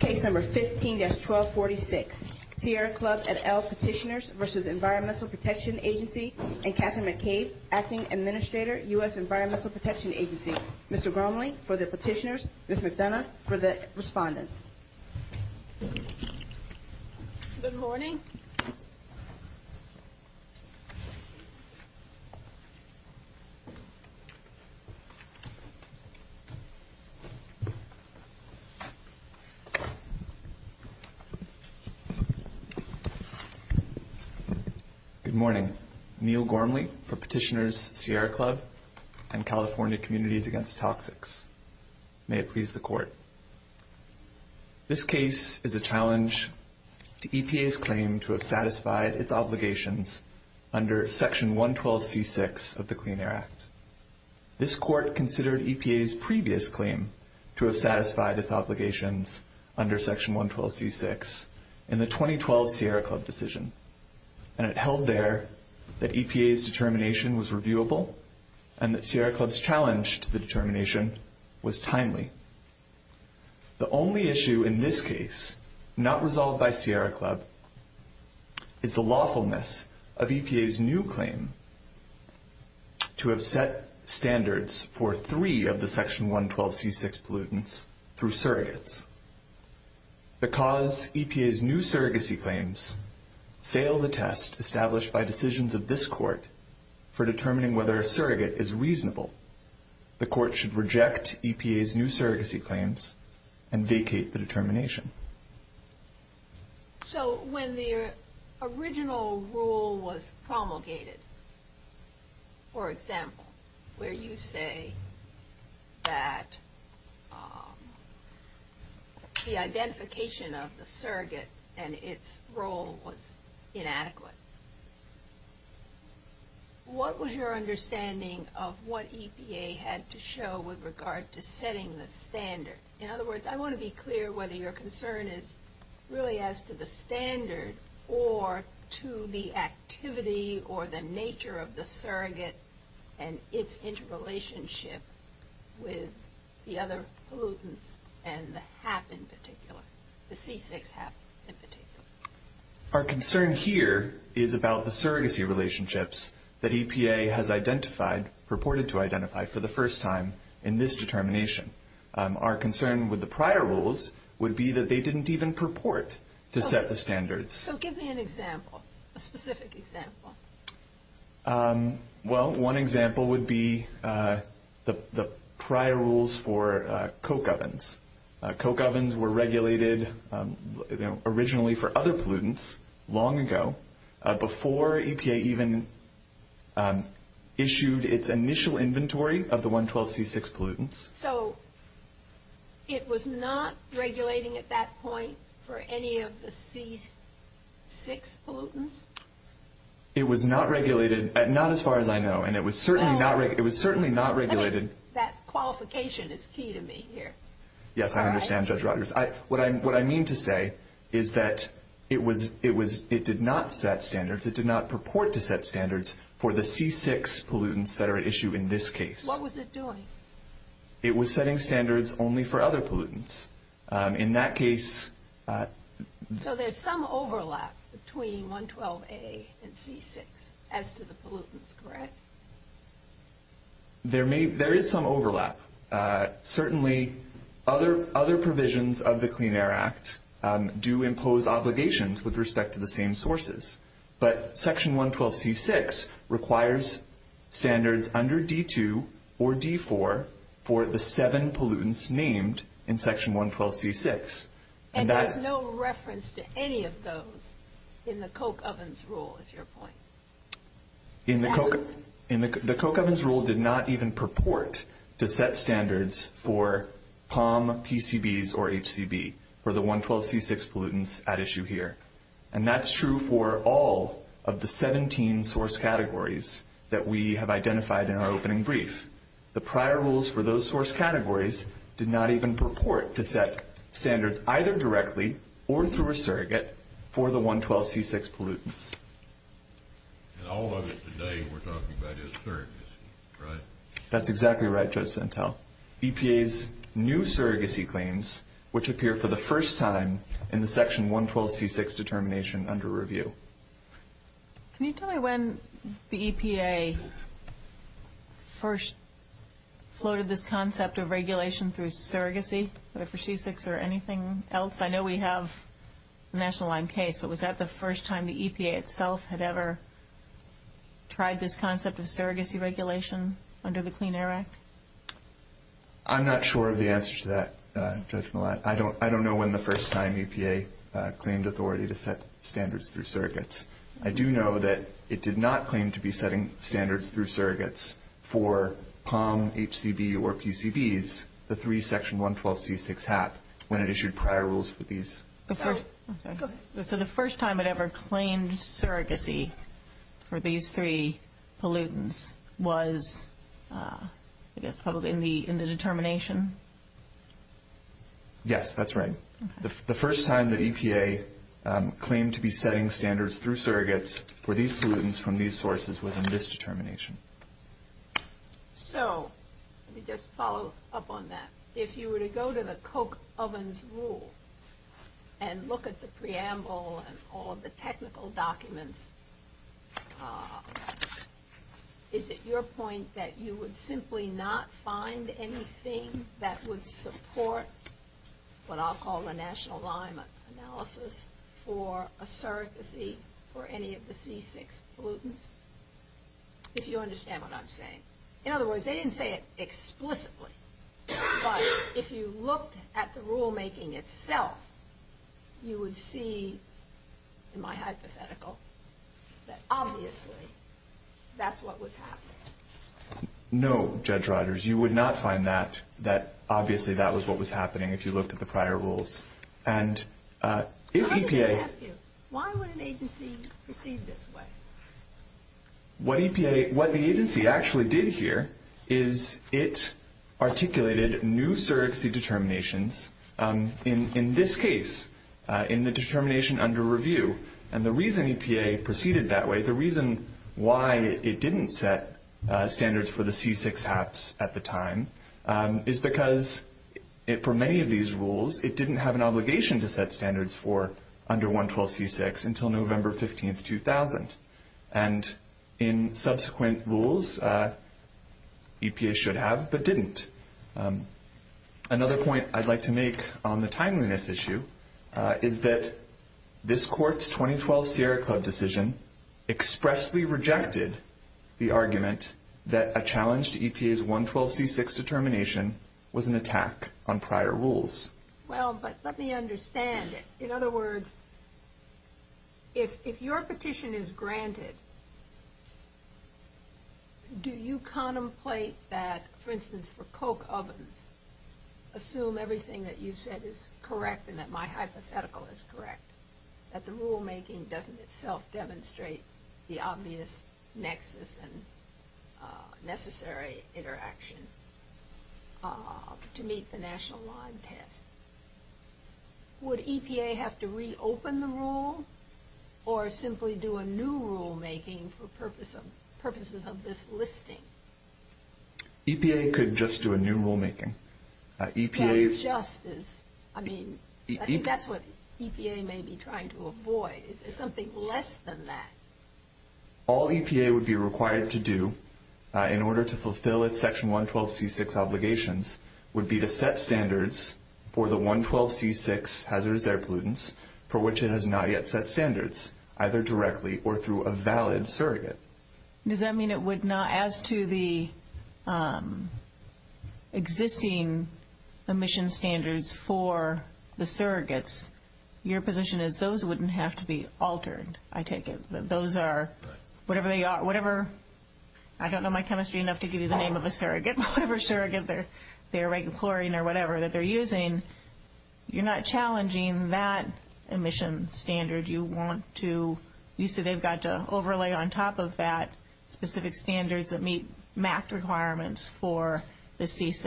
Case number 15-1246, Sierra Club et al. Petitioners v. Environmental Protection Agency and Katherine McCabe, Acting Administrator, U.S. Environmental Protection Agency. Mr. Gromley for the petitioners, Ms. McDonough for the respondents. Good morning. Good morning. Neil Gormley for petitioners, Sierra Club and California Communities Against Toxics. May it please the Court. This case is a challenge to EPA's claim to have satisfied its obligations under Section 112C6 of the Clean Air Act. This Court considered EPA's previous claim to have satisfied its obligations under Section 112C6 in the 2012 Sierra Club decision, and it held there that EPA's determination was reviewable and that Sierra Club's challenge to the determination was timely. The only issue in this case not resolved by Sierra Club is the lawfulness of EPA's new claim to have set standards for three of the Section 112C6 pollutants through surrogates. Because EPA's new surrogacy claims fail the test established by decisions of this Court for determining whether a surrogate is reasonable, the Court should reject EPA's new surrogacy claims and vacate the determination. So when the original rule was promulgated, for example, where you say that the identification of the surrogate and its role was inadequate, what was your understanding of what EPA had to show with regard to setting the standard? In other words, I want to be clear whether your concern is really as to the standard or to the activity or the nature of the surrogate and its interrelationship with the other pollutants and the HAP in particular, the C6 HAP in particular. Our concern here is about the surrogacy relationships that EPA has identified, purported to identify for the first time in this determination. Our concern with the prior rules would be that they didn't even purport to set the standards. So give me an example, a specific example. Well, one example would be the prior rules for Coke ovens. Coke ovens were regulated originally for other pollutants long ago, before EPA even issued its initial inventory of the 112 C6 pollutants. So it was not regulating at that point for any of the C6 pollutants? It was not regulated, not as far as I know, and it was certainly not regulated. That qualification is key to me here. Yes, I understand, Judge Rogers. What I mean to say is that it did not set standards. It did not purport to set standards for the C6 pollutants that are at issue in this case. What was it doing? It was setting standards only for other pollutants. In that case – So there's some overlap between 112A and C6 as to the pollutants, correct? There is some overlap. Certainly other provisions of the Clean Air Act do impose obligations with respect to the same sources. But Section 112C6 requires standards under D2 or D4 for the seven pollutants named in Section 112C6. And there's no reference to any of those in the Coke ovens rule, is your point? The Coke ovens rule did not even purport to set standards for POM, PCBs, or HCB for the 112C6 pollutants at issue here. And that's true for all of the 17 source categories that we have identified in our opening brief. The prior rules for those source categories did not even purport to set standards either directly or through a surrogate for the 112C6 pollutants. And all of it today we're talking about is surrogacy, right? That's exactly right, Judge Sentelle. EPA's new surrogacy claims, which appear for the first time in the Section 112C6 determination under review. Can you tell me when the EPA first floated this concept of regulation through surrogacy, whether for C6 or anything else? I know we have a National Line case, but was that the first time the EPA itself had ever tried this concept of surrogacy regulation under the Clean Air Act? I'm not sure of the answer to that, Judge Millat. I don't know when the first time EPA claimed authority to set standards through surrogates. I do know that it did not claim to be setting standards through surrogates for POM, HCB, or PCBs, the three Section 112C6 HAP, when it issued prior rules for these. So the first time it ever claimed surrogacy for these three pollutants was, I guess, probably in the determination? Yes, that's right. The first time that EPA claimed to be setting standards through surrogates for these pollutants from these sources was in this determination. So, let me just follow up on that. If you were to go to the Coke ovens rule and look at the preamble and all of the technical documents, is it your point that you would simply not find anything that would support what I'll call the National Line analysis for a surrogacy for any of the C6 pollutants? If you understand what I'm saying. In other words, they didn't say it explicitly. But if you looked at the rulemaking itself, you would see, in my hypothetical, that obviously that's what was happening. No, Judge Rodgers, you would not find that, that obviously that was what was happening if you looked at the prior rules. And if EPA... So let me just ask you, why would an agency proceed this way? What the agency actually did here is it articulated new surrogacy determinations, in this case, in the determination under review. And the reason EPA proceeded that way, the reason why it didn't set standards for the C6 HAPs at the time, is because, for many of these rules, it didn't have an obligation to set standards for under 112C6 until November 15, 2000. And in subsequent rules, EPA should have, but didn't. Another point I'd like to make on the timeliness issue is that this Court's 2012 Sierra Club decision expressly rejected the argument that a challenge to EPA's 112C6 determination was an attack on prior rules. Well, but let me understand it. In other words, if your petition is granted, do you contemplate that, for instance, for Coke ovens, assume everything that you said is correct and that my hypothetical is correct, that the rulemaking doesn't itself demonstrate the obvious nexus and necessary interaction to meet the national line test? Would EPA have to reopen the rule or simply do a new rulemaking for purposes of this listing? EPA could just do a new rulemaking. That just is, I mean, that's what EPA may be trying to avoid. Is there something less than that? All EPA would be required to do in order to fulfill its Section 112C6 obligations would be to set standards for the 112C6 hazardous air pollutants for which it has not yet set standards, either directly or through a valid surrogate. Does that mean it would not, as to the existing emission standards for the surrogates, your position is those wouldn't have to be altered, I take it? Those are, whatever they are, whatever, I don't know my chemistry enough to give you the name of a surrogate, but whatever surrogate they're regulating or whatever that they're using, you're not challenging that emission standard. You want to, you say they've got to overlay on top of that specific standards that meet MAC requirements for the C6.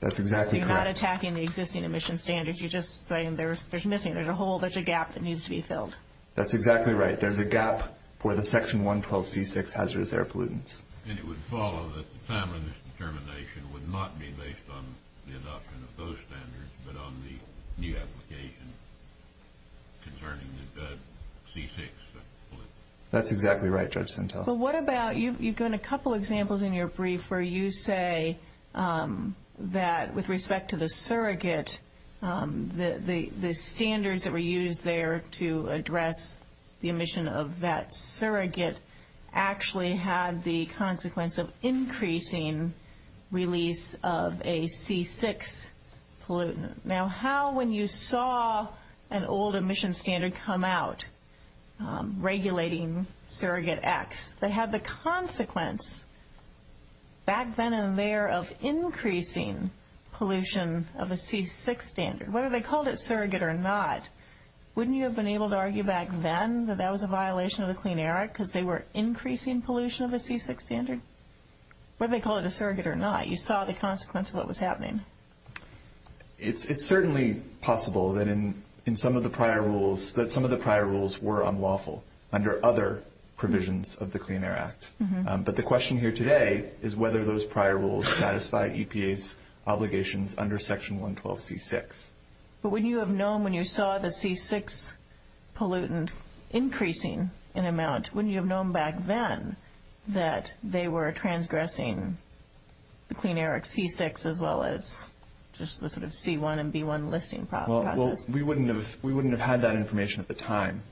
That's exactly correct. You're not attacking the existing emission standards. You're just saying there's missing, there's a hole, there's a gap that needs to be filled. That's exactly right. There's a gap for the Section 112C6 hazardous air pollutants. And it would follow that the time of this determination would not be based on the adoption of those standards, but on the new application concerning the C6 pollutants. That's exactly right, Judge Sintel. But what about, you've given a couple examples in your brief where you say that with respect to the surrogate, the standards that were used there to address the emission of that surrogate actually had the consequence of increasing release of a C6 pollutant. Now, how, when you saw an old emission standard come out regulating surrogate X, that had the consequence back then and there of increasing pollution of a C6 standard, whether they called it surrogate or not, wouldn't you have been able to argue back then that that was a violation of the Clean Air Act because they were increasing pollution of a C6 standard? Whether they called it a surrogate or not, you saw the consequence of what was happening. It's certainly possible that in some of the prior rules, that some of the prior rules were unlawful under other provisions of the Clean Air Act. But the question here today is whether those prior rules satisfy EPA's obligations under Section 112C6. But wouldn't you have known when you saw the C6 pollutant increasing in amount, wouldn't you have known back then that they were transgressing the Clean Air Act C6 as well as just the C1 and B1 listing process? Well, we wouldn't have had that information at the time.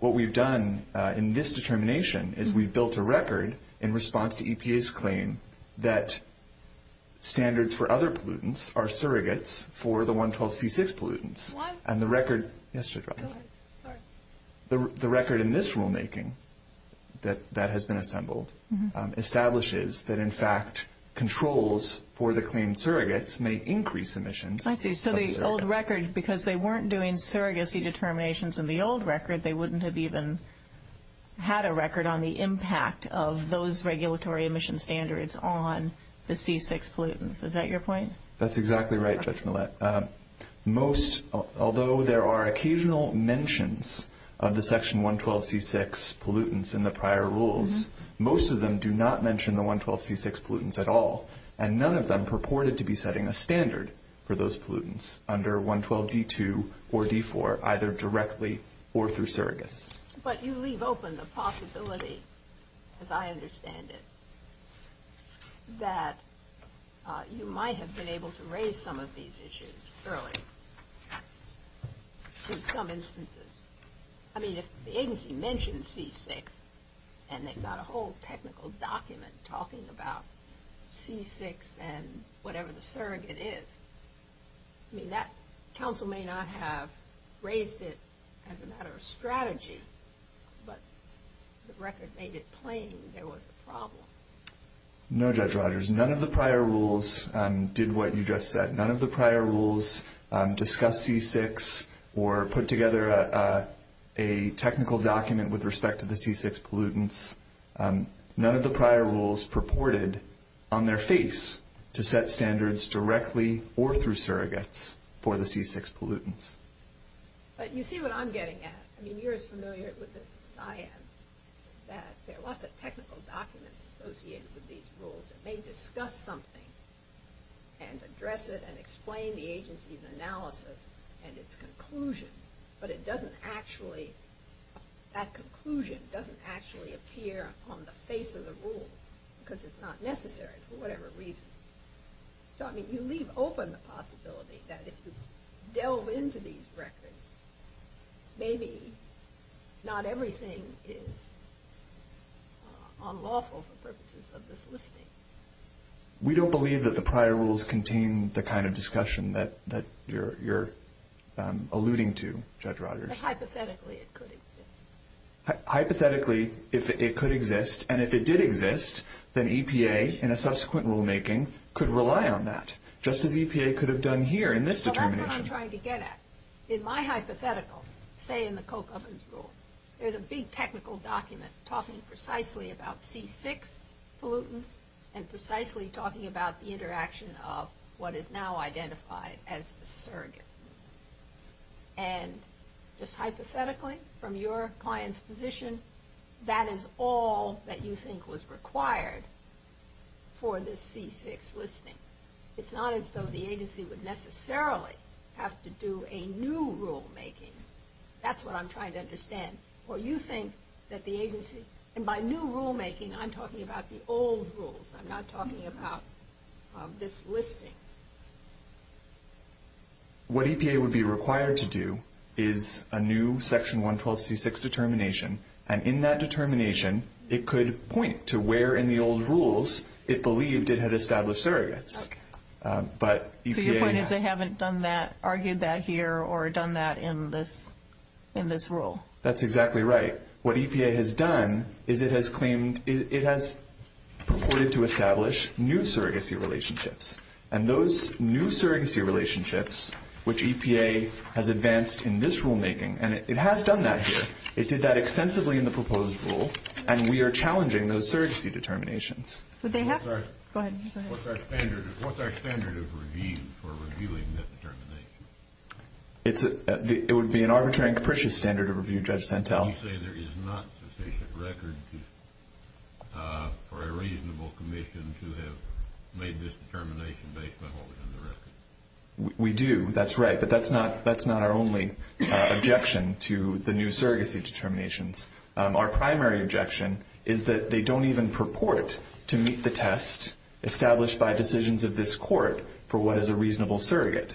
What we've done in this determination is we've built a record in response to EPA's claim that standards for other pollutants are surrogates for the 112C6 pollutants. The record in this rulemaking that has been assembled establishes that, in fact, controls for the claimed surrogates may increase emissions. I see. So the old record, because they weren't doing surrogacy determinations in the old record, they wouldn't have even had a record on the impact of those regulatory emission standards on the C6 pollutants. Is that your point? That's exactly right, Judge Millett. Most, although there are occasional mentions of the Section 112C6 pollutants in the prior rules, most of them do not mention the 112C6 pollutants at all, and none of them purported to be setting a standard for those pollutants under 112D2 or D4, either directly or through surrogates. But you leave open the possibility, as I understand it, that you might have been able to raise some of these issues early in some instances. I mean, if the agency mentions C6 and they've got a whole technical document talking about C6 and whatever the surrogate is, I mean, that counsel may not have raised it as a matter of strategy, but the record made it plain there was a problem. No, Judge Rogers, none of the prior rules did what you just said. None of the prior rules discussed C6 or put together a technical document with respect to the C6 pollutants. None of the prior rules purported on their face to set standards directly or through surrogates for the C6 pollutants. But you see what I'm getting at. I mean, you're as familiar with this as I am, that there are lots of technical documents associated with these rules. They discuss something and address it and explain the agency's analysis and its conclusion, but it doesn't actually, that conclusion doesn't actually appear on the face of the rule because it's not necessary for whatever reason. So, I mean, you leave open the possibility that if you delve into these records, maybe not everything is unlawful for purposes of this listing. We don't believe that the prior rules contain the kind of discussion that you're alluding to, Judge Rogers. But hypothetically, it could exist. Hypothetically, it could exist, and if it did exist, then EPA in a subsequent rulemaking could rely on that, just as EPA could have done here in this determination. So that's what I'm trying to get at. In my hypothetical, say in the Coke ovens rule, there's a big technical document talking precisely about C6 pollutants and precisely talking about the interaction of what is now identified as a surrogate. And just hypothetically, from your client's position, that is all that you think was required for this C6 listing. It's not as though the agency would necessarily have to do a new rulemaking. That's what I'm trying to understand. Or you think that the agency, and by new rulemaking, I'm talking about the old rules. I'm not talking about this listing. What EPA would be required to do is a new Section 112C6 determination, and in that determination, it could point to where in the old rules it believed it had established surrogates. Okay. So your point is they haven't argued that here or done that in this rule. That's exactly right. What EPA has done is it has claimed it has purported to establish new surrogacy relationships, and those new surrogacy relationships, which EPA has advanced in this rulemaking, and it has done that here. It did that extensively in the proposed rule, and we are challenging those surrogacy determinations. Would they have to? Go ahead. What's our standard of review for reviewing that determination? It would be an arbitrary and capricious standard of review, Judge Santel. You say there is not sufficient record for a reasonable commission to have made this determination based on what was in the record. We do. That's right, but that's not our only objection to the new surrogacy determinations. Our primary objection is that they don't even purport to meet the test established by decisions of this court for what is a reasonable surrogate.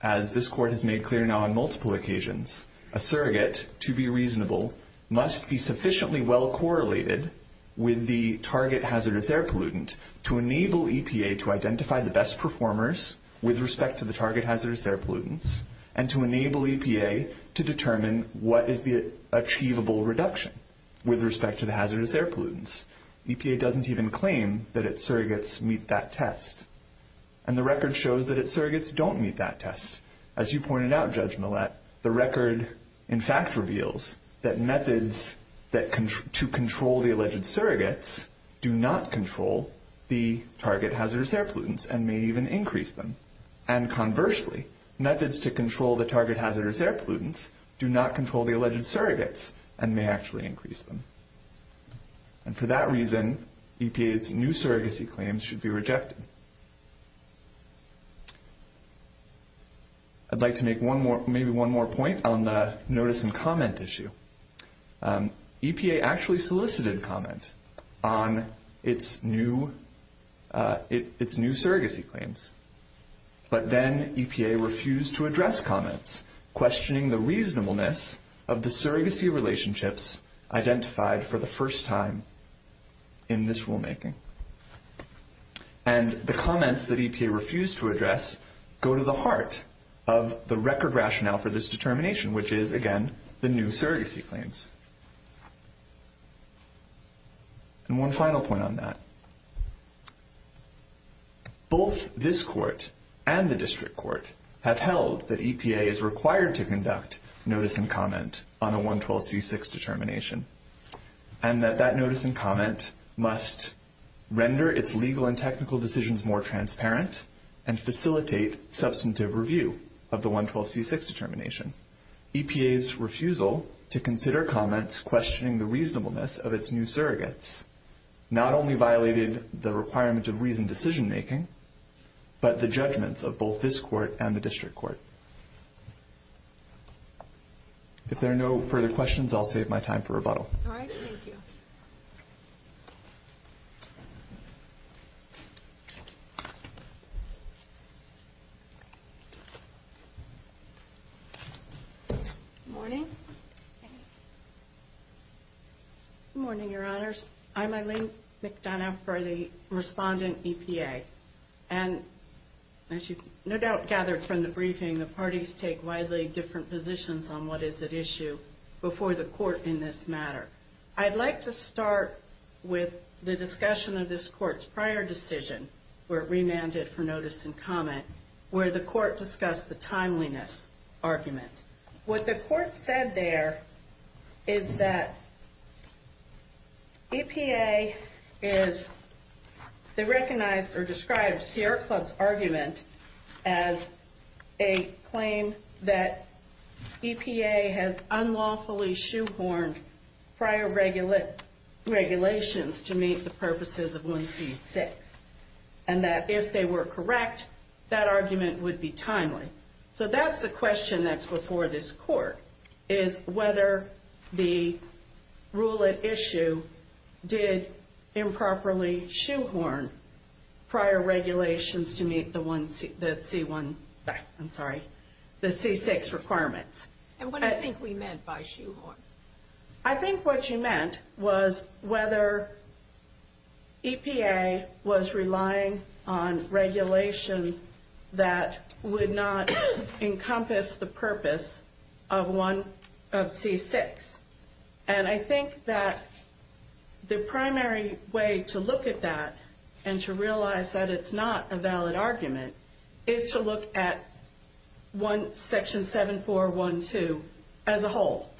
As this court has made clear now on multiple occasions, a surrogate, to be reasonable, must be sufficiently well correlated with the target hazardous air pollutant to enable EPA to identify the best performers with respect to the target hazardous air pollutants and to enable EPA to determine what is the achievable reduction with respect to the hazardous air pollutants. EPA doesn't even claim that its surrogates meet that test, and the record shows that its surrogates don't meet that test. As you pointed out, Judge Millett, the record, in fact, reveals that methods to control the alleged surrogates do not control the target hazardous air pollutants and may even increase them. And conversely, methods to control the target hazardous air pollutants do not control the alleged surrogates and may actually increase them. And for that reason, EPA's new surrogacy claims should be rejected. I'd like to make maybe one more point on the notice and comment issue. EPA actually solicited comment on its new surrogacy claims, but then EPA refused to address comments, questioning the reasonableness of the surrogacy relationships identified for the first time in this rulemaking. And the comments that EPA refused to address go to the heart of the record rationale for this determination, which is, again, the new surrogacy claims. And one final point on that. Both this court and the district court have held that EPA is required to conduct notice and comment on a 112c6 determination and that that notice and comment must render its legal and technical decisions more transparent and facilitate substantive review of the 112c6 determination. EPA's refusal to consider comments questioning the reasonableness of its new surrogates not only violated the requirement of reasoned decision-making, but the judgments of both this court and the district court. If there are no further questions, I'll save my time for rebuttal. All right. Thank you. Good morning. Good morning, Your Honors. I'm Eileen McDonough for the respondent, EPA. widely different positions on what is at issue before the court in this matter. I'd like to start with the discussion of this court's prior decision, where it remanded for notice and comment, where the court discussed the timeliness argument. What the court said there is that EPA is, they recognized or described Sierra Club's argument as a claim that EPA has unlawfully shoehorned prior regulations to meet the purposes of 1C6. And that if they were correct, that argument would be timely. So that's the question that's before this court, is whether the rule at issue did improperly shoehorn prior regulations to meet the 1C, the C1, I'm sorry, the C6 requirements. And what do you think we meant by shoehorn? I think what you meant was whether EPA was relying on regulations that would not encompass the purpose of 1C6. And I think that the primary way to look at that and to realize that it's not a valid argument is to look at Section 7412 as a whole.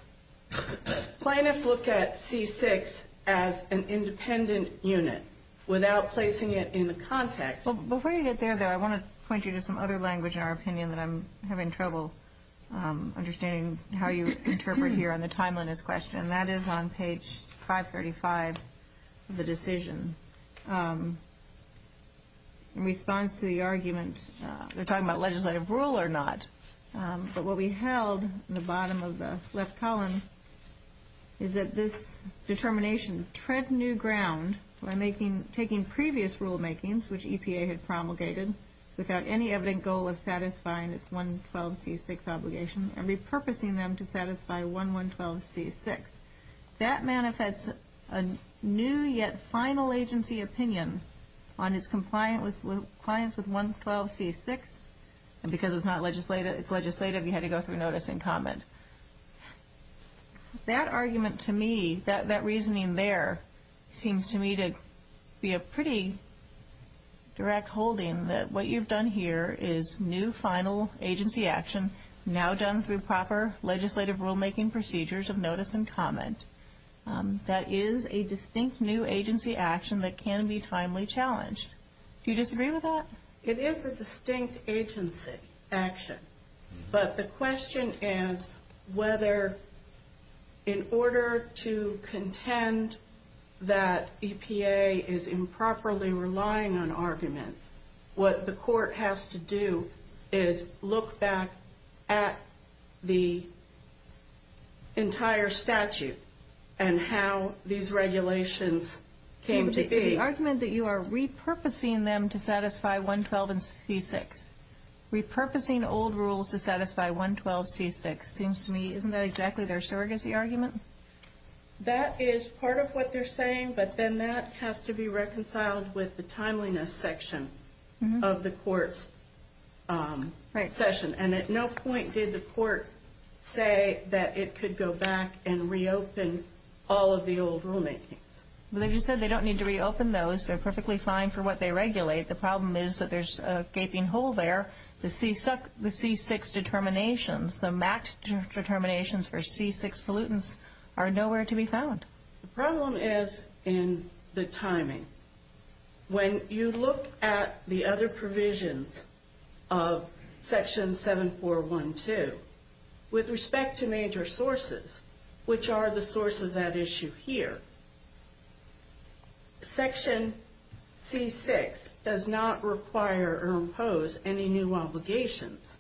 Plaintiffs look at C6 as an independent unit without placing it in the context. Before you get there, though, I want to point you to some other language in our opinion that I'm having trouble understanding how you interpret here on the timeliness question, and that is on page 535 of the decision. In response to the argument, they're talking about legislative rule or not, but what we held in the bottom of the left column is that this determination tread new ground by taking previous rulemakings, which EPA had promulgated, without any evident goal of satisfying its 112C6 obligation and repurposing them to satisfy 1112C6. That manifests a new yet final agency opinion on its compliance with 112C6, and because it's legislative, you had to go through notice and comment. That argument to me, that reasoning there seems to me to be a pretty direct holding that what you've done here is new final agency action, now done through proper legislative rulemaking procedures of notice and comment. That is a distinct new agency action that can be timely challenged. Do you disagree with that? It is a distinct agency action, but the question is whether in order to contend that EPA is improperly relying on arguments, what the court has to do is look back at the entire statute and how these regulations came to be. The argument that you are repurposing them to satisfy 112C6, repurposing old rules to satisfy 112C6, seems to me isn't that exactly their surrogacy argument? That is part of what they're saying, but then that has to be reconciled with the timeliness section of the court's session, and at no point did the court say that it could go back and reopen all of the old rulemakings. They just said they don't need to reopen those. They're perfectly fine for what they regulate. The problem is that there's a gaping hole there. The C6 determinations, the MACT determinations for C6 pollutants are nowhere to be found. The problem is in the timing. When you look at the other provisions of Section 7412, with respect to major sources, which are the sources at issue here, Section C6 does not require or impose any new obligations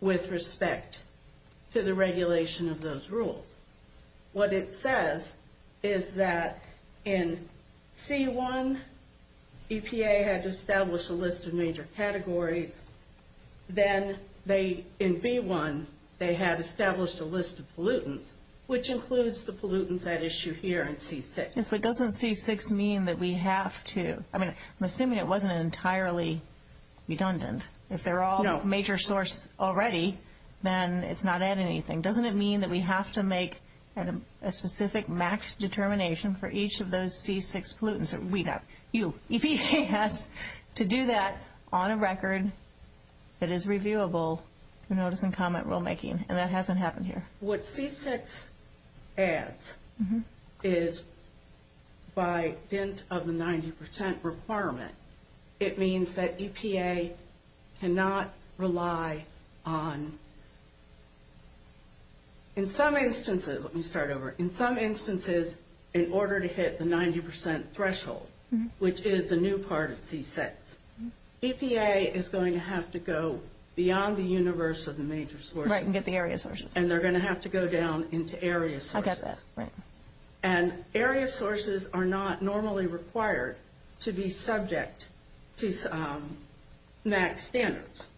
with respect to the regulation of those rules. What it says is that in C1, EPA had established a list of major categories. Then in B1, they had established a list of pollutants, which includes the pollutants at issue here in C6. Yes, but doesn't C6 mean that we have to – I mean, I'm assuming it wasn't entirely redundant. If they're all major sources already, then it's not adding anything. Doesn't it mean that we have to make a specific MACT determination for each of those C6 pollutants? EPA has to do that on a record that is reviewable for notice and comment rulemaking, and that hasn't happened here. What C6 adds is, by dint of the 90% requirement, it means that EPA cannot rely on – in some instances – let me start over. In some instances, in order to hit the 90% threshold, which is the new part of C6, EPA is going to have to go beyond the universe of the major sources. Right, and get the area sources. And they're going to have to go down into area sources. I get that, right. And area sources are not normally required to be subject to MACT standards.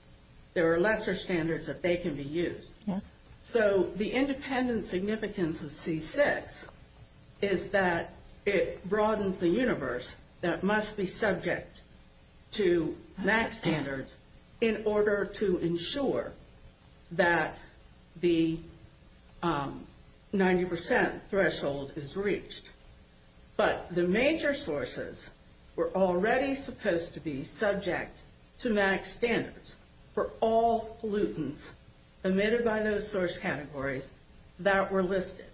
There are lesser standards that they can be used. Yes. So the independent significance of C6 is that it broadens the universe that must be subject to MACT standards in order to ensure that the 90% threshold is reached. But the major sources were already supposed to be subject to MACT standards for all pollutants emitted by those source categories that were listed.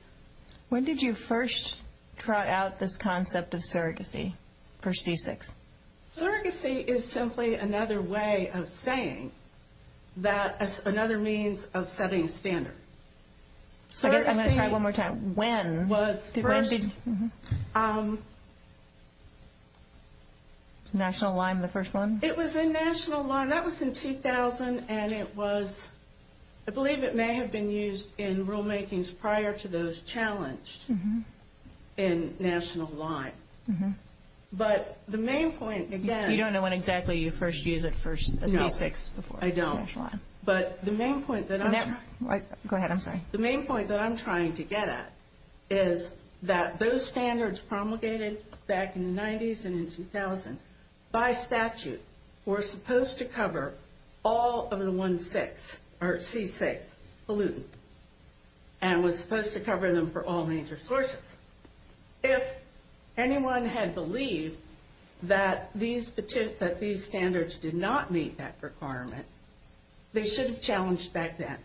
When did you first try out this concept of surrogacy for C6? Surrogacy is simply another way of saying that – another means of setting a standard. I'm going to try one more time. When? Was first – National Lyme, the first one? It was in National Lyme. That was in 2000, and it was – I believe it may have been used in rulemakings prior to those challenged in National Lyme. But the main point, again – You don't know when exactly you first used it for C6 before? No, I don't. But the main point that I'm trying – Go ahead. I'm sorry. The main point that I'm trying to get at is that those standards promulgated back in the 90s and in 2000, by statute, were supposed to cover all of the C6 pollutant and was supposed to cover them for all major sources. If anyone had believed that these standards did not meet that requirement, they should have challenged back then.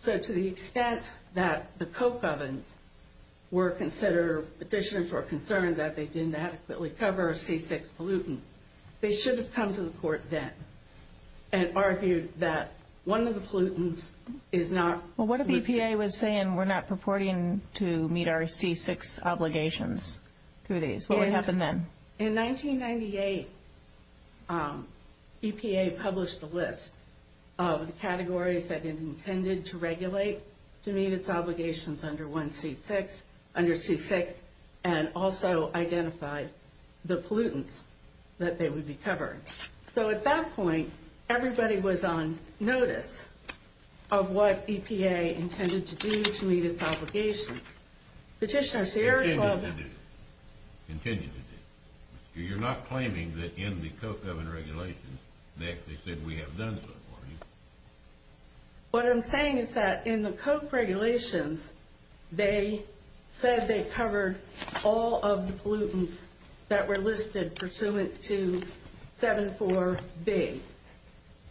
So to the extent that the Coke ovens were considered – petitioners were concerned that they didn't adequately cover a C6 pollutant, they should have come to the court then and argued that one of the pollutants is not – Well, what if EPA was saying we're not purporting to meet our C6 obligations through these? What would happen then? In 1998, EPA published a list of the categories that it intended to regulate to meet its obligations under C6 and also identified the pollutants that they would be covering. So at that point, everybody was on notice of what EPA intended to do to meet its obligation. Petitioner Sierra told them – Continue to do. Continue to do. You're not claiming that in the Coke oven regulations, they actually said we have done so for you. What I'm saying is that in the Coke regulations, they said they covered all of the pollutants that were listed pursuant to 74B,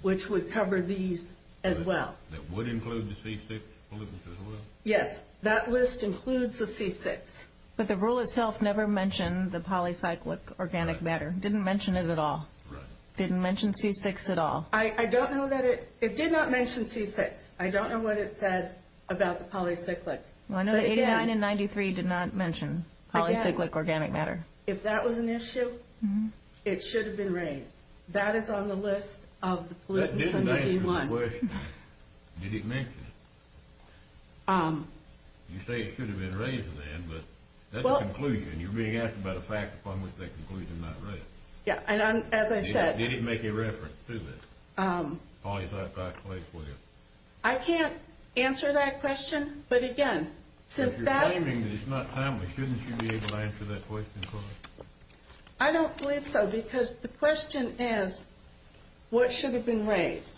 which would cover these as well. That would include the C6 pollutants as well? Yes. That list includes the C6. But the rule itself never mentioned the polycyclic organic matter. Didn't mention it at all. Right. Didn't mention C6 at all. I don't know that it – it did not mention C6. I don't know what it said about the polycyclic. Well, I know that 89 and 93 did not mention polycyclic organic matter. If that was an issue, it should have been raised. That is on the list of the pollutants under 81. That didn't answer the question. Did it mention it? You say it should have been raised then, but that's a conclusion. You're being asked about a fact upon which that conclusion is not raised. Yeah, and as I said – They didn't make a reference to this polycyclic wasteware. I can't answer that question. But, again, since that – If you're questioning that it's not timely, shouldn't you be able to answer that question for us? I don't believe so because the question is what should have been raised.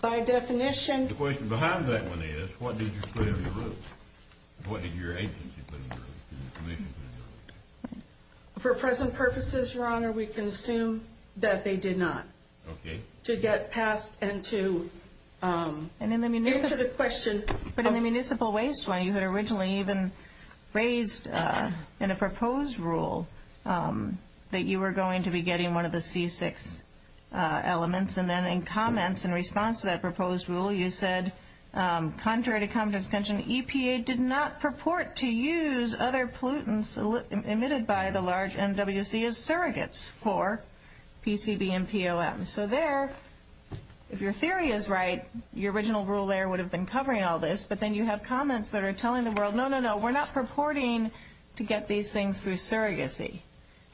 By definition – The question behind that one is what did you put in the rules? What did your agency put in the rules? Didn't the commission put in the rules? For present purposes, Your Honor, we can assume that they did not. Okay. To get past and to answer the question. But in the municipal waste one, you had originally even raised in a proposed rule that you were going to be getting one of the C6 elements. And then in comments in response to that proposed rule, you said, Contrary to comments mentioned, EPA did not purport to use other pollutants emitted by the large MWC as surrogates for PCB and POM. So there, if your theory is right, your original rule there would have been covering all this. But then you have comments that are telling the world, No, no, no, we're not purporting to get these things through surrogacy.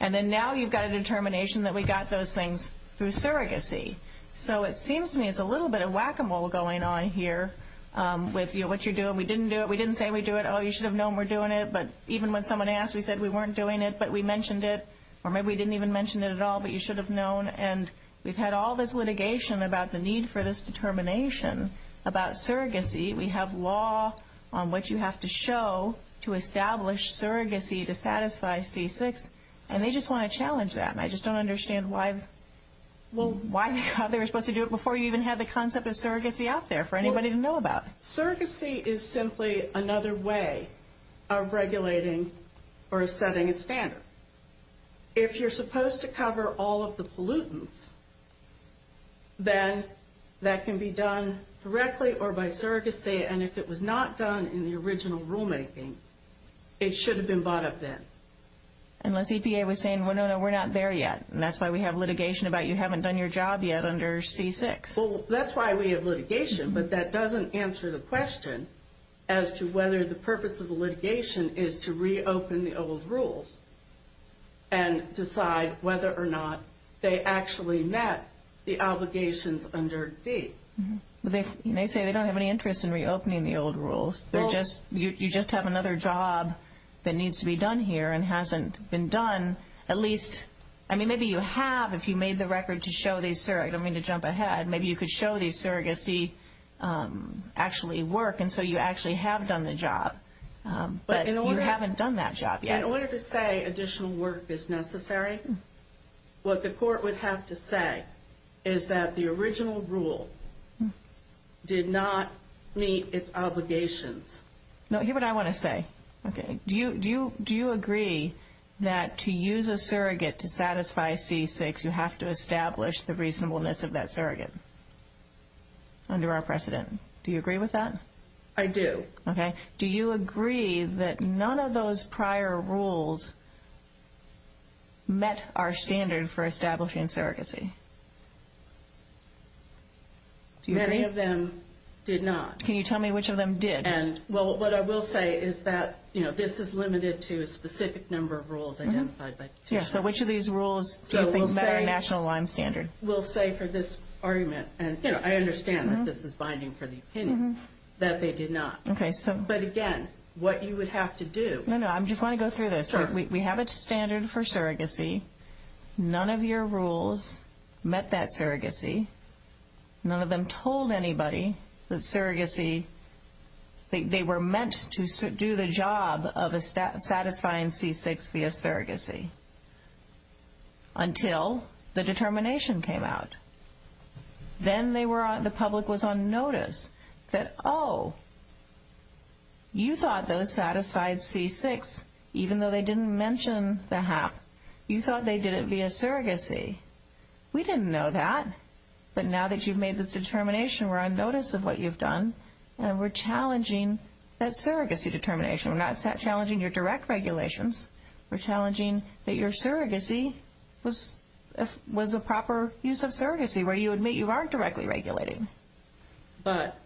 And then now you've got a determination that we got those things through surrogacy. So it seems to me it's a little bit of whack-a-mole going on here with what you're doing. We didn't do it. We didn't say we do it. Oh, you should have known we're doing it. But even when someone asked, we said we weren't doing it, but we mentioned it. Or maybe we didn't even mention it at all, but you should have known. And we've had all this litigation about the need for this determination about surrogacy. We have law on what you have to show to establish surrogacy to satisfy C6. And they just want to challenge that. And I just don't understand why. Why they were supposed to do it before you even had the concept of surrogacy out there for anybody to know about. Surrogacy is simply another way of regulating or setting a standard. If you're supposed to cover all of the pollutants, then that can be done directly or by surrogacy. And if it was not done in the original rulemaking, it should have been bought up then. Unless EPA was saying, Well, no, no, we're not there yet. And that's why we have litigation about you haven't done your job yet under C6. Well, that's why we have litigation. But that doesn't answer the question as to whether the purpose of the litigation is to reopen the old rules and decide whether or not they actually met the obligations under D. They say they don't have any interest in reopening the old rules. You just have another job that needs to be done here and hasn't been done, at least. I mean, maybe you have if you made the record to show the surrogate. I don't mean to jump ahead. Maybe you could show the surrogacy actually work. And so you actually have done the job. But you haven't done that job yet. In order to say additional work is necessary, what the court would have to say is that the original rule did not meet its obligations. No, here's what I want to say. Okay. Do you agree that to use a surrogate to satisfy C6, you have to establish the reasonableness of that surrogate under our precedent? Do you agree with that? I do. Okay. Do you agree that none of those prior rules met our standard for establishing surrogacy? Many of them did not. Can you tell me which of them did? Well, what I will say is that this is limited to a specific number of rules identified by the petition. So which of these rules do you think met our national LIME standard? We'll say for this argument, and I understand that this is binding for the opinion, that they did not. Okay. But again, what you would have to do. No, no. I just want to go through this. We have a standard for surrogacy. None of your rules met that surrogacy. None of them told anybody that surrogacy, they were meant to do the job of satisfying C6 via surrogacy until the determination came out. Then the public was on notice that, oh, you thought those satisfied C6, even though they didn't mention the HAP, you thought they did it via surrogacy. We didn't know that. But now that you've made this determination, we're on notice of what you've done, and we're challenging that surrogacy determination. We're not challenging your direct regulations. We're challenging that your surrogacy was a proper use of surrogacy, where you admit you aren't directly regulating. But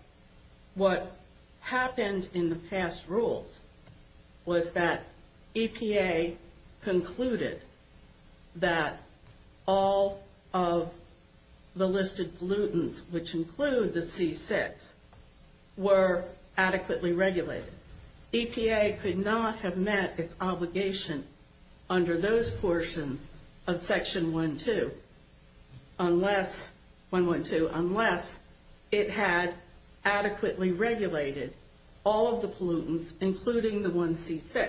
what happened in the past rules was that EPA concluded that all of the listed pollutants, which include the C6, were adequately regulated. EPA could not have met its obligation under those portions of Section 112 unless it had adequately regulated all of the pollutants, including the one C6.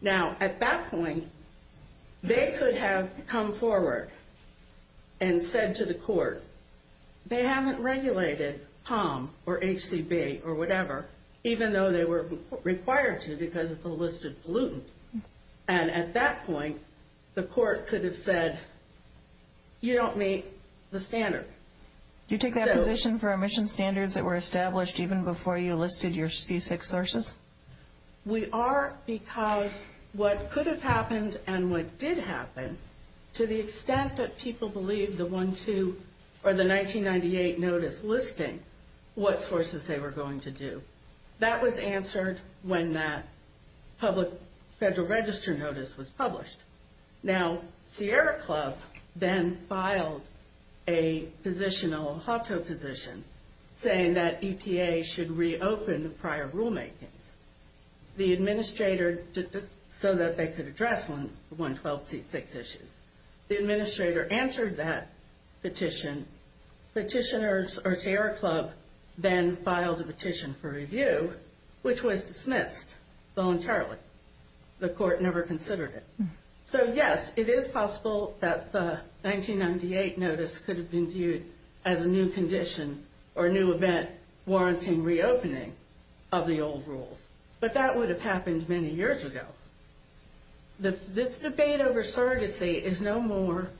Now, at that point, they could have come forward and said to the court, they haven't regulated POM or HCB or whatever, even though they were required to because it's a listed pollutant. And at that point, the court could have said, you don't meet the standard. Do you take that position for emission standards that were established even before you listed your C6 sources? We are because what could have happened and what did happen, to the extent that people believed the 1998 notice listing what sources they were going to do, that was answered when that public federal register notice was published. Now, Sierra Club then filed a positional HACO position saying that EPA should reopen prior rulemakings. The administrator did this so that they could address 112 C6 issues. The administrator answered that petition. Petitioners or Sierra Club then filed a petition for review, which was dismissed voluntarily. The court never considered it. So, yes, it is possible that the 1998 notice could have been viewed as a new condition or a new event warranting reopening of the old rules. But that would have happened many years ago. This debate over surrogacy is no more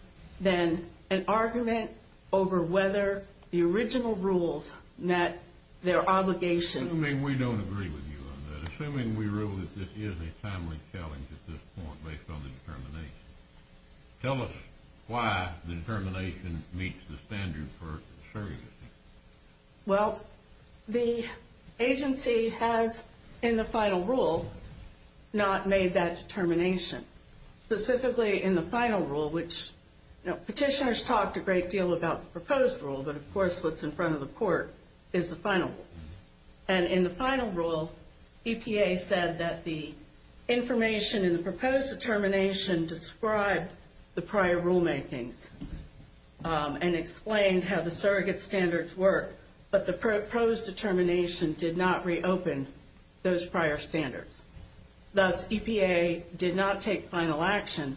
than an argument over whether the original rules met their obligation. Assuming we don't agree with you on that, assuming we rule that this is a timely challenge at this point based on the determination, tell us why the determination meets the standard for surrogacy. Well, the agency has, in the final rule, not made that determination. Specifically in the final rule, which petitioners talked a great deal about the proposed rule, but of course what's in front of the court is the final rule. And in the final rule, EPA said that the information in the proposed determination described the prior rulemakings and explained how the surrogate standards work. But the proposed determination did not reopen those prior standards. Thus, EPA did not take final action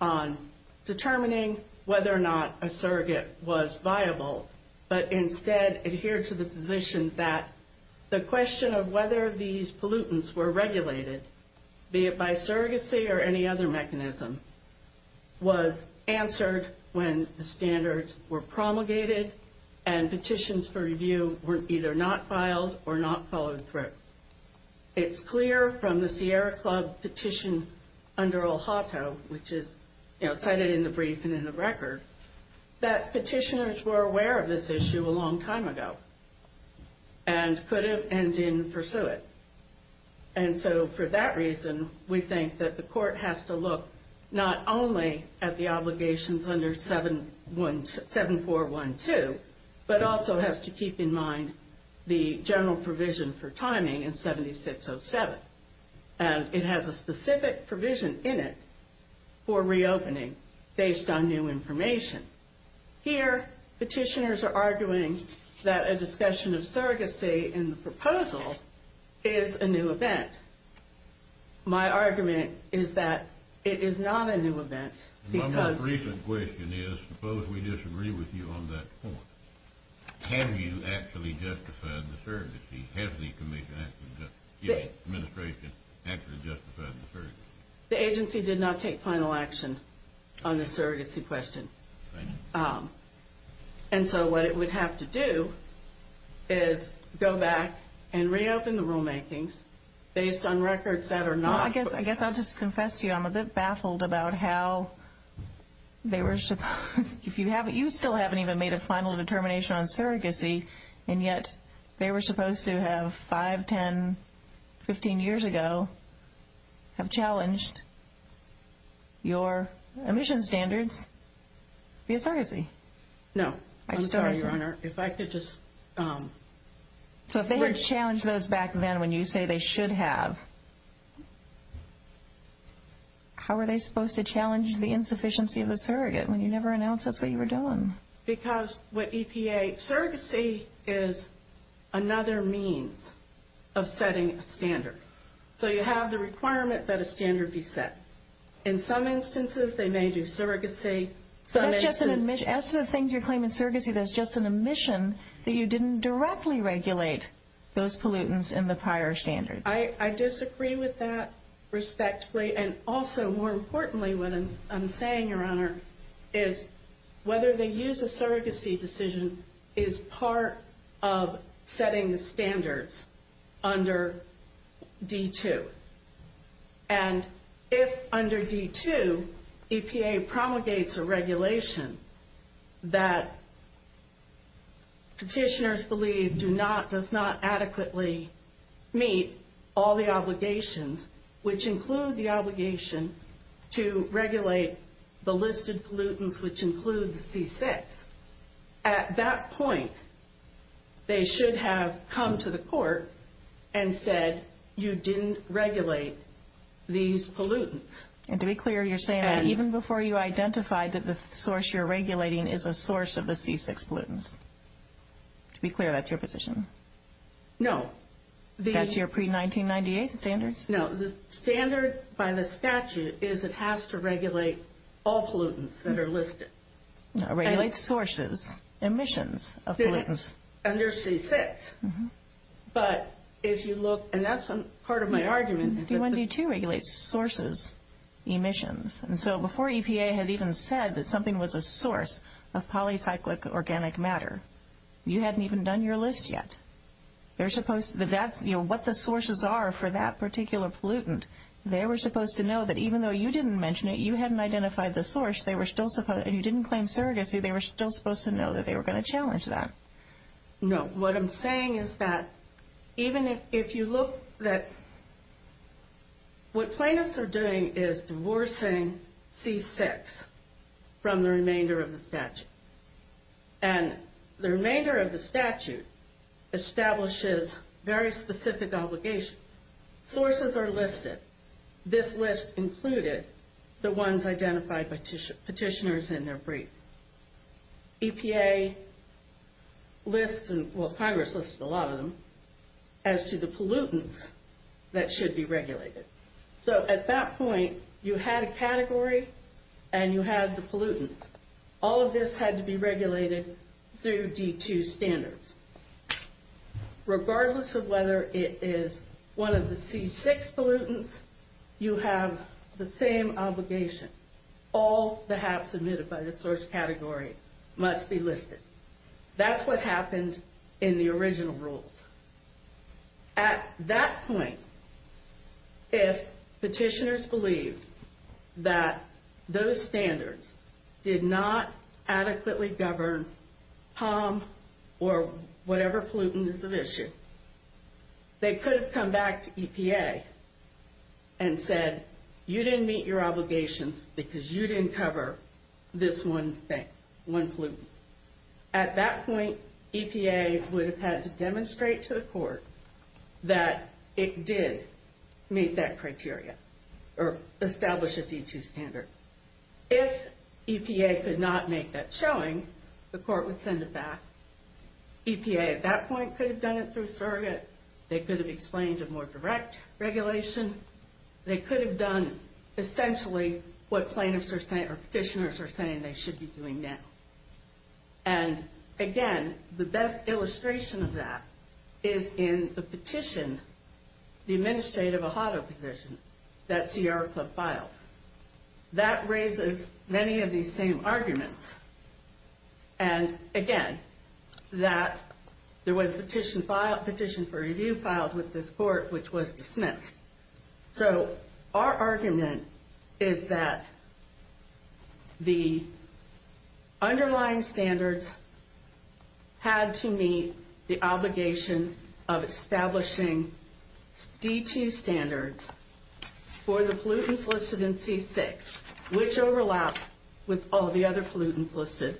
on determining whether or not a surrogate was viable, but instead adhered to the position that the question of whether these pollutants were regulated, be it by surrogacy or any other mechanism, was answered when the standards were promulgated and petitions for review were either not filed or not followed through. It's clear from the Sierra Club petition under Olhato, which is cited in the brief and in the record, that petitioners were aware of this issue a long time ago and could have and didn't pursue it. And so for that reason, we think that the court has to look not only at the obligations under 7412, but also has to keep in mind the general provision for timing in 7607. And it has a specific provision in it for reopening based on new information. Here, petitioners are arguing that a discussion of surrogacy in the proposal is a new event. My argument is that it is not a new event because... My most recent question is, suppose we disagree with you on that point. Have you actually justified the surrogacy? Has the administration actually justified the surrogacy? The agency did not take final action on the surrogacy question. And so what it would have to do is go back and reopen the rulemakings based on records that are not... I guess I'll just confess to you, I'm a bit baffled about how they were supposed... No. I'm sorry, Your Honor. If I could just... So if they had challenged those back then when you say they should have, how were they supposed to challenge the insufficiency of the surrogate when you never announced that's what you were doing? Because with EPA, surrogacy is another means of setting a standard. So you have the requirement that a standard be set. In some instances, they may do surrogacy. But that's just an admission. As to the things you're claiming surrogacy, that's just an admission that you didn't directly regulate those pollutants in the prior standards. I disagree with that respectfully. And also, more importantly, what I'm saying, Your Honor, is whether they use a surrogacy decision is part of setting the standards under D2. And if under D2, EPA promulgates a regulation that petitioners believe does not adequately meet all the obligations, which include the obligation to regulate the listed pollutants, which include the C6, at that point, they should have come to the court and said you didn't regulate these pollutants. And to be clear, you're saying that even before you identified that the source you're regulating is a source of the C6 pollutants? To be clear, that's your position? No. That's your pre-1998 standards? No. The standard by the statute is it has to regulate all pollutants that are listed. Regulates sources, emissions of pollutants. Under C6. But if you look, and that's part of my argument. D1D2 regulates sources, emissions. And so before EPA had even said that something was a source of polycyclic organic matter, you hadn't even done your list yet. What the sources are for that particular pollutant, they were supposed to know that even though you didn't mention it, you hadn't identified the source, and you didn't claim surrogacy, they were still supposed to know that they were going to challenge that. No. What I'm saying is that even if you look, what plaintiffs are doing is divorcing C6 from the remainder of the statute. And the remainder of the statute establishes very specific obligations. Sources are listed. This list included the ones identified by petitioners in their brief. EPA lists, well Congress listed a lot of them, as to the pollutants that should be regulated. So at that point, you had a category, and you had the pollutants. All of this had to be regulated through D2 standards. Regardless of whether it is one of the C6 pollutants, you have the same obligation. All that have submitted by the source category must be listed. That's what happened in the original rules. At that point, if petitioners believed that those standards did not adequately govern POM or whatever pollutant is at issue, they could have come back to EPA and said, you didn't meet your obligations because you didn't cover this one pollutant. At that point, EPA would have had to demonstrate to the court that it did meet that criteria, or establish a D2 standard. If EPA could not make that showing, the court would send it back. EPA at that point could have done it through surrogate. They could have explained a more direct regulation. They could have done essentially what plaintiffs are saying, or petitioners are saying they should be doing now. Again, the best illustration of that is in the petition, the administrative AHATA petition that CRF filed. That raises many of these same arguments. Again, there was a petition for review filed with this court which was dismissed. Our argument is that the underlying standards had to meet the obligation of establishing D2 standards for the pollutants listed in C6, which overlap with all the other pollutants listed.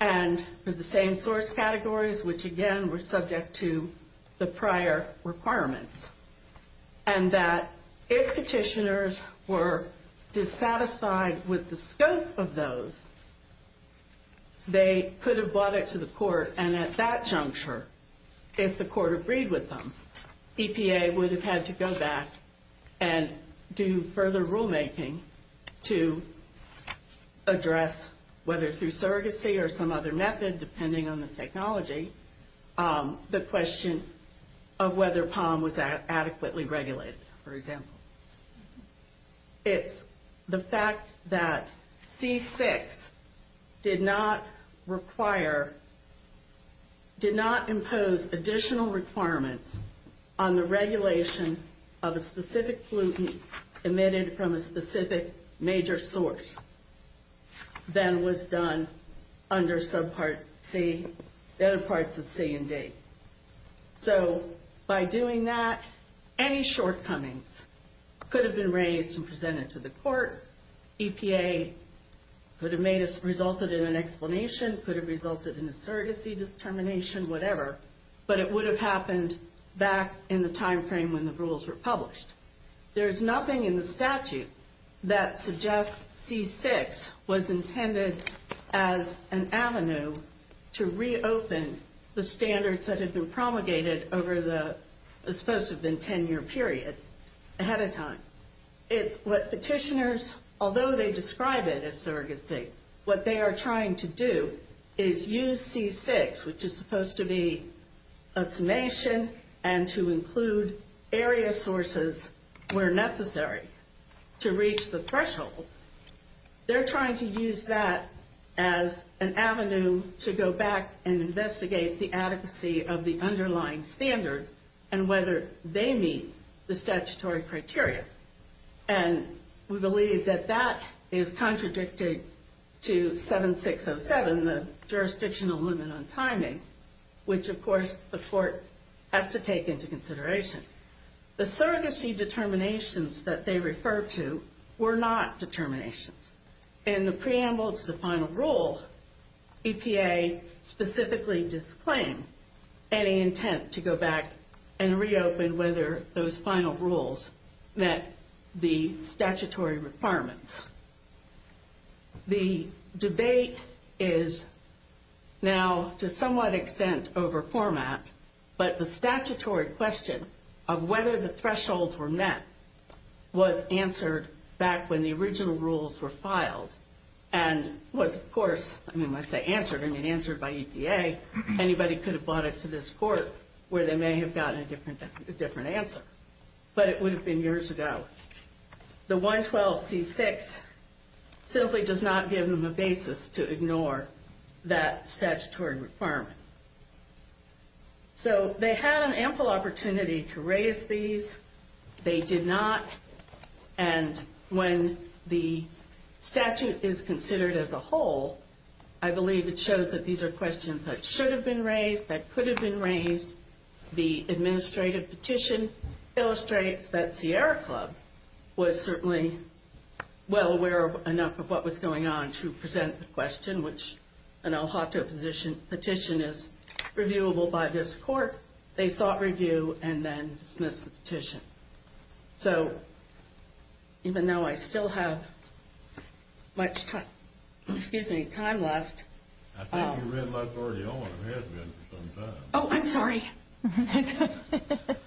And for the same source categories, which again were subject to the prior requirements. And that if petitioners were dissatisfied with the scope of those, they could have brought it to the court. And at that juncture, if the court agreed with them, EPA would have had to go back and do further rulemaking to address, whether through surrogacy or some other method, depending on the technology, the question of whether POM was adequately regulated, for example. It's the fact that C6 did not require, did not impose additional requirements on the regulation of a specific pollutant emitted from a specific major source, than was done under subpart C, the other parts of C and D. So by doing that, any shortcomings could have been raised and presented to the court. EPA could have resulted in an explanation, could have resulted in a surrogacy determination, whatever. But it would have happened back in the time frame when the rules were published. There's nothing in the statute that suggests C6 was intended as an avenue to reopen the standards that had been promulgated over the supposed to have been 10 year period, ahead of time. It's what petitioners, although they describe it as surrogacy, what they are trying to do is use C6, which is supposed to be a summation and to include area sources where necessary to reach the threshold. They're trying to use that as an avenue to go back and investigate the adequacy of the underlying standards and whether they meet the statutory criteria. And we believe that that is contradicted to 7607, the jurisdictional limit on timing, which of course the court has to take into consideration. The surrogacy determinations that they refer to were not determinations. In the preamble to the final rule, EPA specifically disclaimed any intent to go back and reopen whether those final rules met the statutory requirements. The debate is now to somewhat extent over format, but the statutory question of whether the thresholds were met was answered back when the original rules were filed. And was, of course, I mean when I say answered, I mean answered by EPA. Anybody could have brought it to this court where they may have gotten a different answer. But it would have been years ago. The 112C6 simply does not give them a basis to ignore that statutory requirement. So they had an ample opportunity to raise these. They did not. And when the statute is considered as a whole, I believe it shows that these are questions that should have been raised, that could have been raised. The administrative petition illustrates that Sierra Club was certainly well aware enough of what was going on to present the question, which an al hotto petition is reviewable by this court. They sought review and then dismissed the petition. So even though I still have much time, excuse me, time left. Oh, I'm sorry.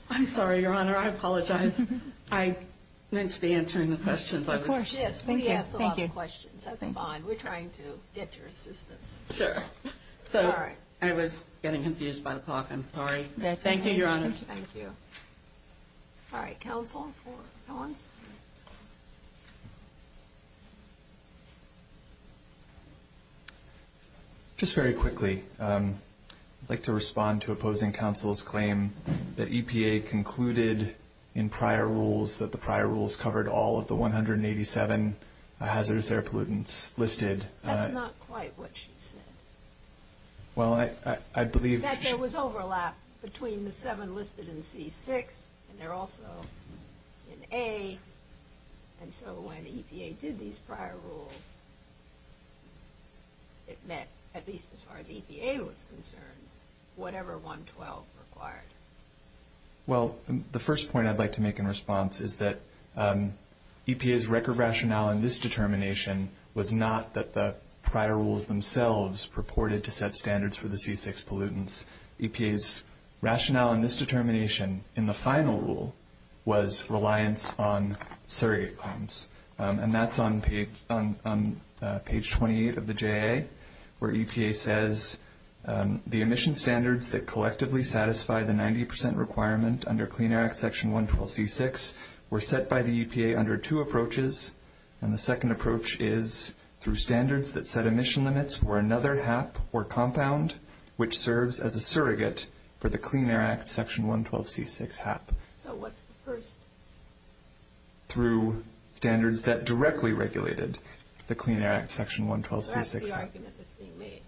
I'm sorry, Your Honor. I apologize. I meant to be answering the questions. Of course, yes. We asked a lot of questions. That's fine. We're trying to get your assistance. Sure. So I was getting confused by the clock. I'm sorry. Thank you, Your Honor. Thank you. All right. Any other questions for counsel? Just very quickly, I'd like to respond to opposing counsel's claim that EPA concluded in prior rules that the prior rules covered all of the 187 hazardous air pollutants listed. That's not quite what she said. Well, I believe that there was overlap between the seven listed in C6, and they're also in A. And so when EPA did these prior rules, it met, at least as far as EPA was concerned, whatever 112 required. Well, the first point I'd like to make in response is that EPA's record rationale in this determination was not that the prior rules themselves purported to set standards for the C6 pollutants. EPA's rationale in this determination in the final rule was reliance on surrogate claims. And that's on page 28 of the JA, where EPA says the emission standards that collectively satisfy the 90 percent requirement under Clean Air Act Section 112C6 were set by the EPA under two approaches. And the second approach is through standards that set emission limits for another HAP or compound, which serves as a surrogate for the Clean Air Act Section 112C6 HAP. So what's the first? Through standards that directly regulated the Clean Air Act Section 112C6 HAP. What's the argument that's being made?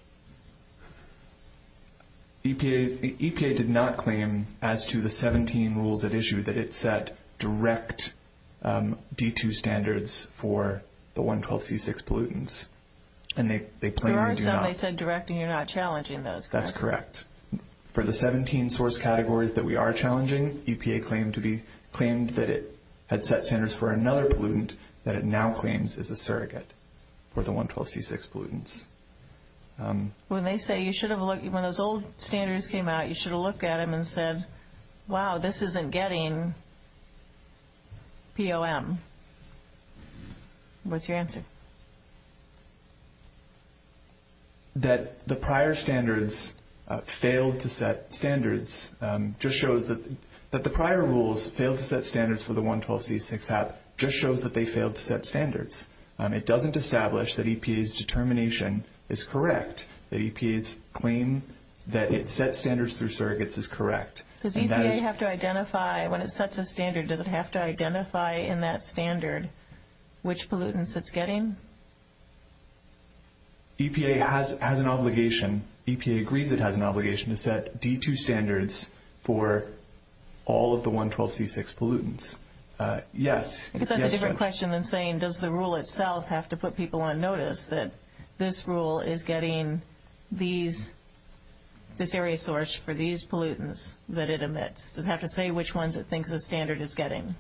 EPA did not claim, as to the 17 rules at issue, that it set direct D2 standards for the 112C6 pollutants. There are some they said direct, and you're not challenging those, correct? That's correct. For the 17 source categories that we are challenging, EPA claimed that it had set standards for another pollutant that it now claims is a surrogate for the 112C6 pollutants. When they say you should have looked, when those old standards came out, you should have looked at them and said, wow, this isn't getting POM. What's your answer? That the prior standards failed to set standards just shows that the prior rules failed to set standards for the 112C6 HAP just shows that they failed to set standards. It doesn't establish that EPA's determination is correct, that EPA's claim that it set standards through surrogates is correct. Does EPA have to identify, when it sets a standard, does it have to identify in that standard which pollutants it's getting? EPA has an obligation, EPA agrees it has an obligation to set D2 standards for all of the 112C6 pollutants. That's a different question than saying, does the rule itself have to put people on notice that this rule is getting this area source for these pollutants that it emits? Does it have to say which ones it thinks the standard is getting?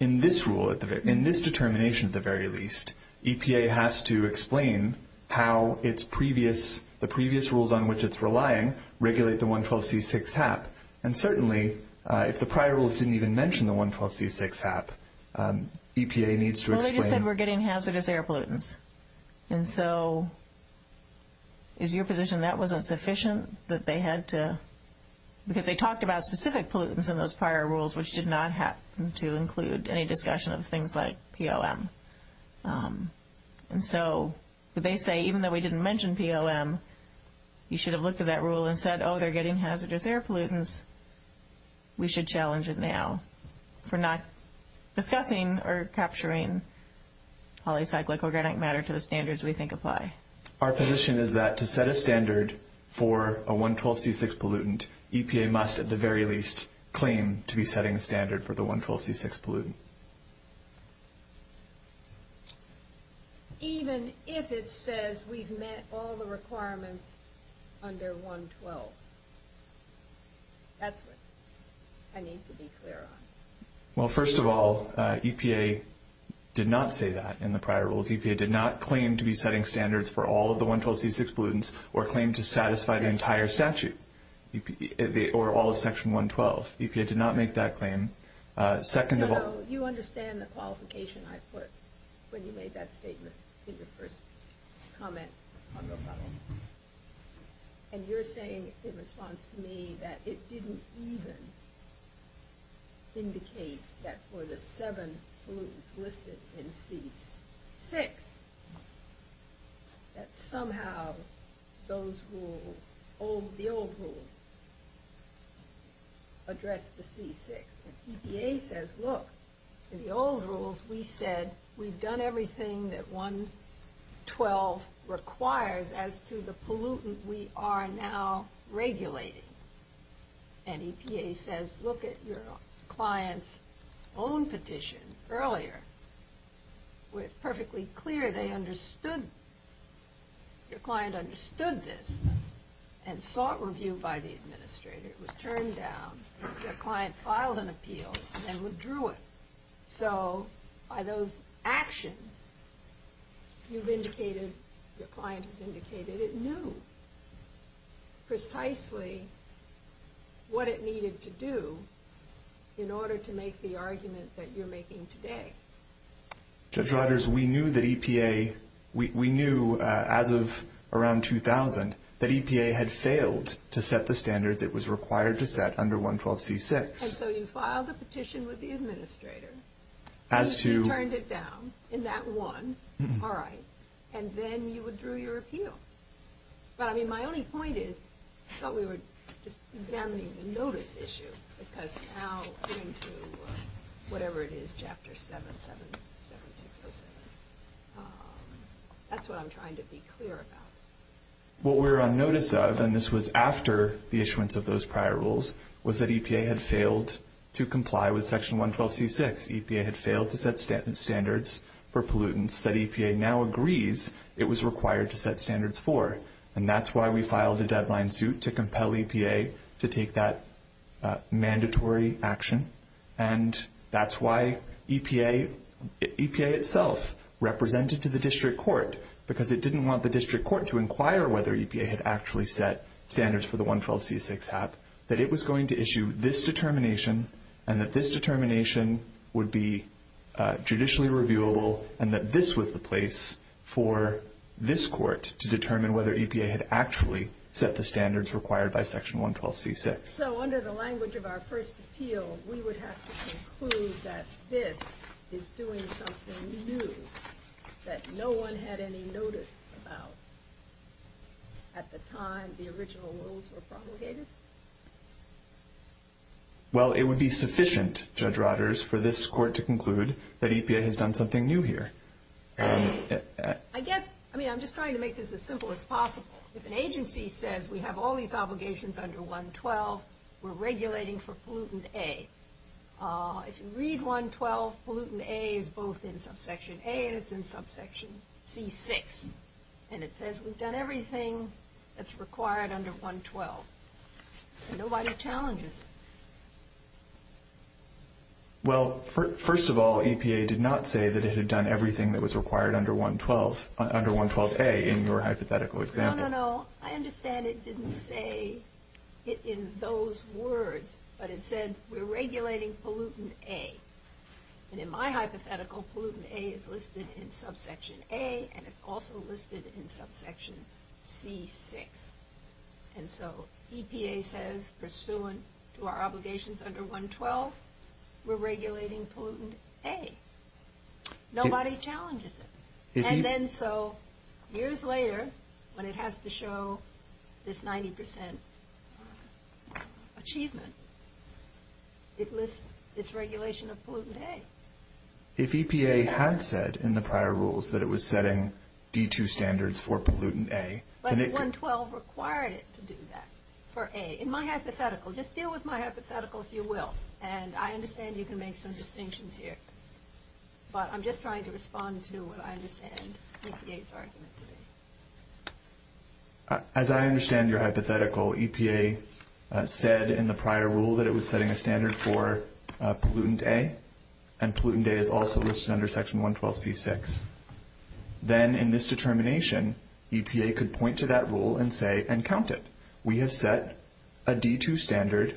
In this rule, in this determination at the very least, EPA has to explain how the previous rules on which it's relying regulate the 112C6 HAP. And certainly, if the prior rules didn't even mention the 112C6 HAP, EPA needs to explain... Well, they just said we're getting hazardous air pollutants. And so, is your position that wasn't sufficient, that they had to... Because they talked about specific pollutants in those prior rules, which did not happen to include any discussion of things like POM. And so, they say, even though we didn't mention POM, you should have looked at that rule and said, oh, they're getting hazardous air pollutants. We should challenge it now for not discussing or capturing polycyclic organic matter to the standards we think apply. Our position is that to set a standard for a 112C6 pollutant, EPA must, at the very least, claim to be setting a standard for the 112C6 pollutant. Even if it says we've met all the requirements under 112. That's what I need to be clear on. Well, first of all, EPA did not say that in the prior rules. EPA did not claim to be setting standards for all of the 112C6 pollutants or claim to satisfy the entire statute or all of Section 112. EPA did not make that claim. Second of all... You know, you understand the qualification I put when you made that statement in your first comment on the funnel. And you're saying, in response to me, that it didn't even indicate that for the seven pollutants listed in C6, that somehow those rules, the old rules, addressed the C6. EPA says, look, in the old rules, we said we've done everything that 112 requires as to the pollutant we are now regulating. And EPA says, look at your client's own petition earlier, where it's perfectly clear they understood. Your client understood this and sought review by the administrator. It was turned down. Your client filed an appeal and then withdrew it. So by those actions, you've indicated, your client has indicated it knew precisely what it needed to do in order to make the argument that you're making today. Judge Rodgers, we knew that EPA, we knew as of around 2000, that EPA had failed to set the standards it was required to set under 112C6. And so you filed a petition with the administrator. As to... And you turned it down in that one. All right. And then you withdrew your appeal. But, I mean, my only point is, I thought we were just examining the notice issue. Because now, according to whatever it is, Chapter 7, 7607, that's what I'm trying to be clear about. What we're on notice of, and this was after the issuance of those prior rules, was that EPA had failed to comply with Section 112C6. EPA had failed to set standards for pollutants that EPA now agrees it was required to set standards for. And that's why we filed a deadline suit to compel EPA to take that mandatory action. And that's why EPA itself represented to the district court, because it didn't want the district court to inquire whether EPA had actually set standards for the 112C6 HAP, that it was going to issue this determination, and that this determination would be judicially reviewable, and that this was the place for this court to determine whether EPA had actually set the standards required by Section 112C6. So, under the language of our first appeal, we would have to conclude that this is doing something new that no one had any notice about at the time the original rules were promulgated? Well, it would be sufficient, Judge Rodders, for this court to conclude that EPA has done something new here. I guess, I mean, I'm just trying to make this as simple as possible. If an agency says we have all these obligations under 112, we're regulating for pollutant A. If you read 112, pollutant A is both in subsection A and it's in subsection C6. And it says we've done everything that's required under 112. Nobody challenges it. Well, first of all, EPA did not say that it had done everything that was required under 112A in your hypothetical example. No, no, no. I understand it didn't say it in those words, but it said we're regulating pollutant A. And in my hypothetical, pollutant A is listed in subsection A, and it's also listed in subsection C6. And so EPA says, pursuant to our obligations under 112, we're regulating pollutant A. Nobody challenges it. And then so years later, when it has to show this 90% achievement, it lists its regulation of pollutant A. If EPA had said in the prior rules that it was setting D2 standards for pollutant A, then it could... EPA required it to do that for A. In my hypothetical, just deal with my hypothetical, if you will, and I understand you can make some distinctions here. But I'm just trying to respond to what I understand EPA's argument to be. As I understand your hypothetical, EPA said in the prior rule that it was setting a standard for pollutant A, and pollutant A is also listed under section 112C6. Then in this determination, EPA could point to that rule and say, and count it. We have set a D2 standard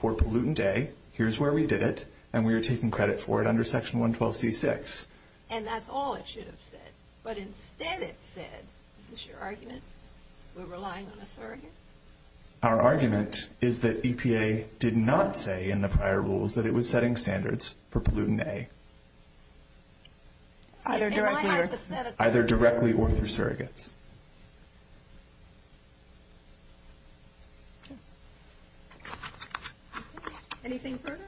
for pollutant A. Here's where we did it, and we are taking credit for it under section 112C6. And that's all it should have said. But instead it said, is this your argument? We're relying on a surrogate? Our argument is that EPA did not say in the prior rules that it was setting standards for pollutant A. In my hypothetical... Either directly or through surrogates. Anything further?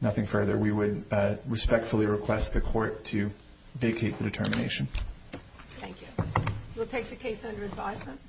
Nothing further. We would respectfully request the court to vacate the determination. Thank you. We'll take the case under advisement.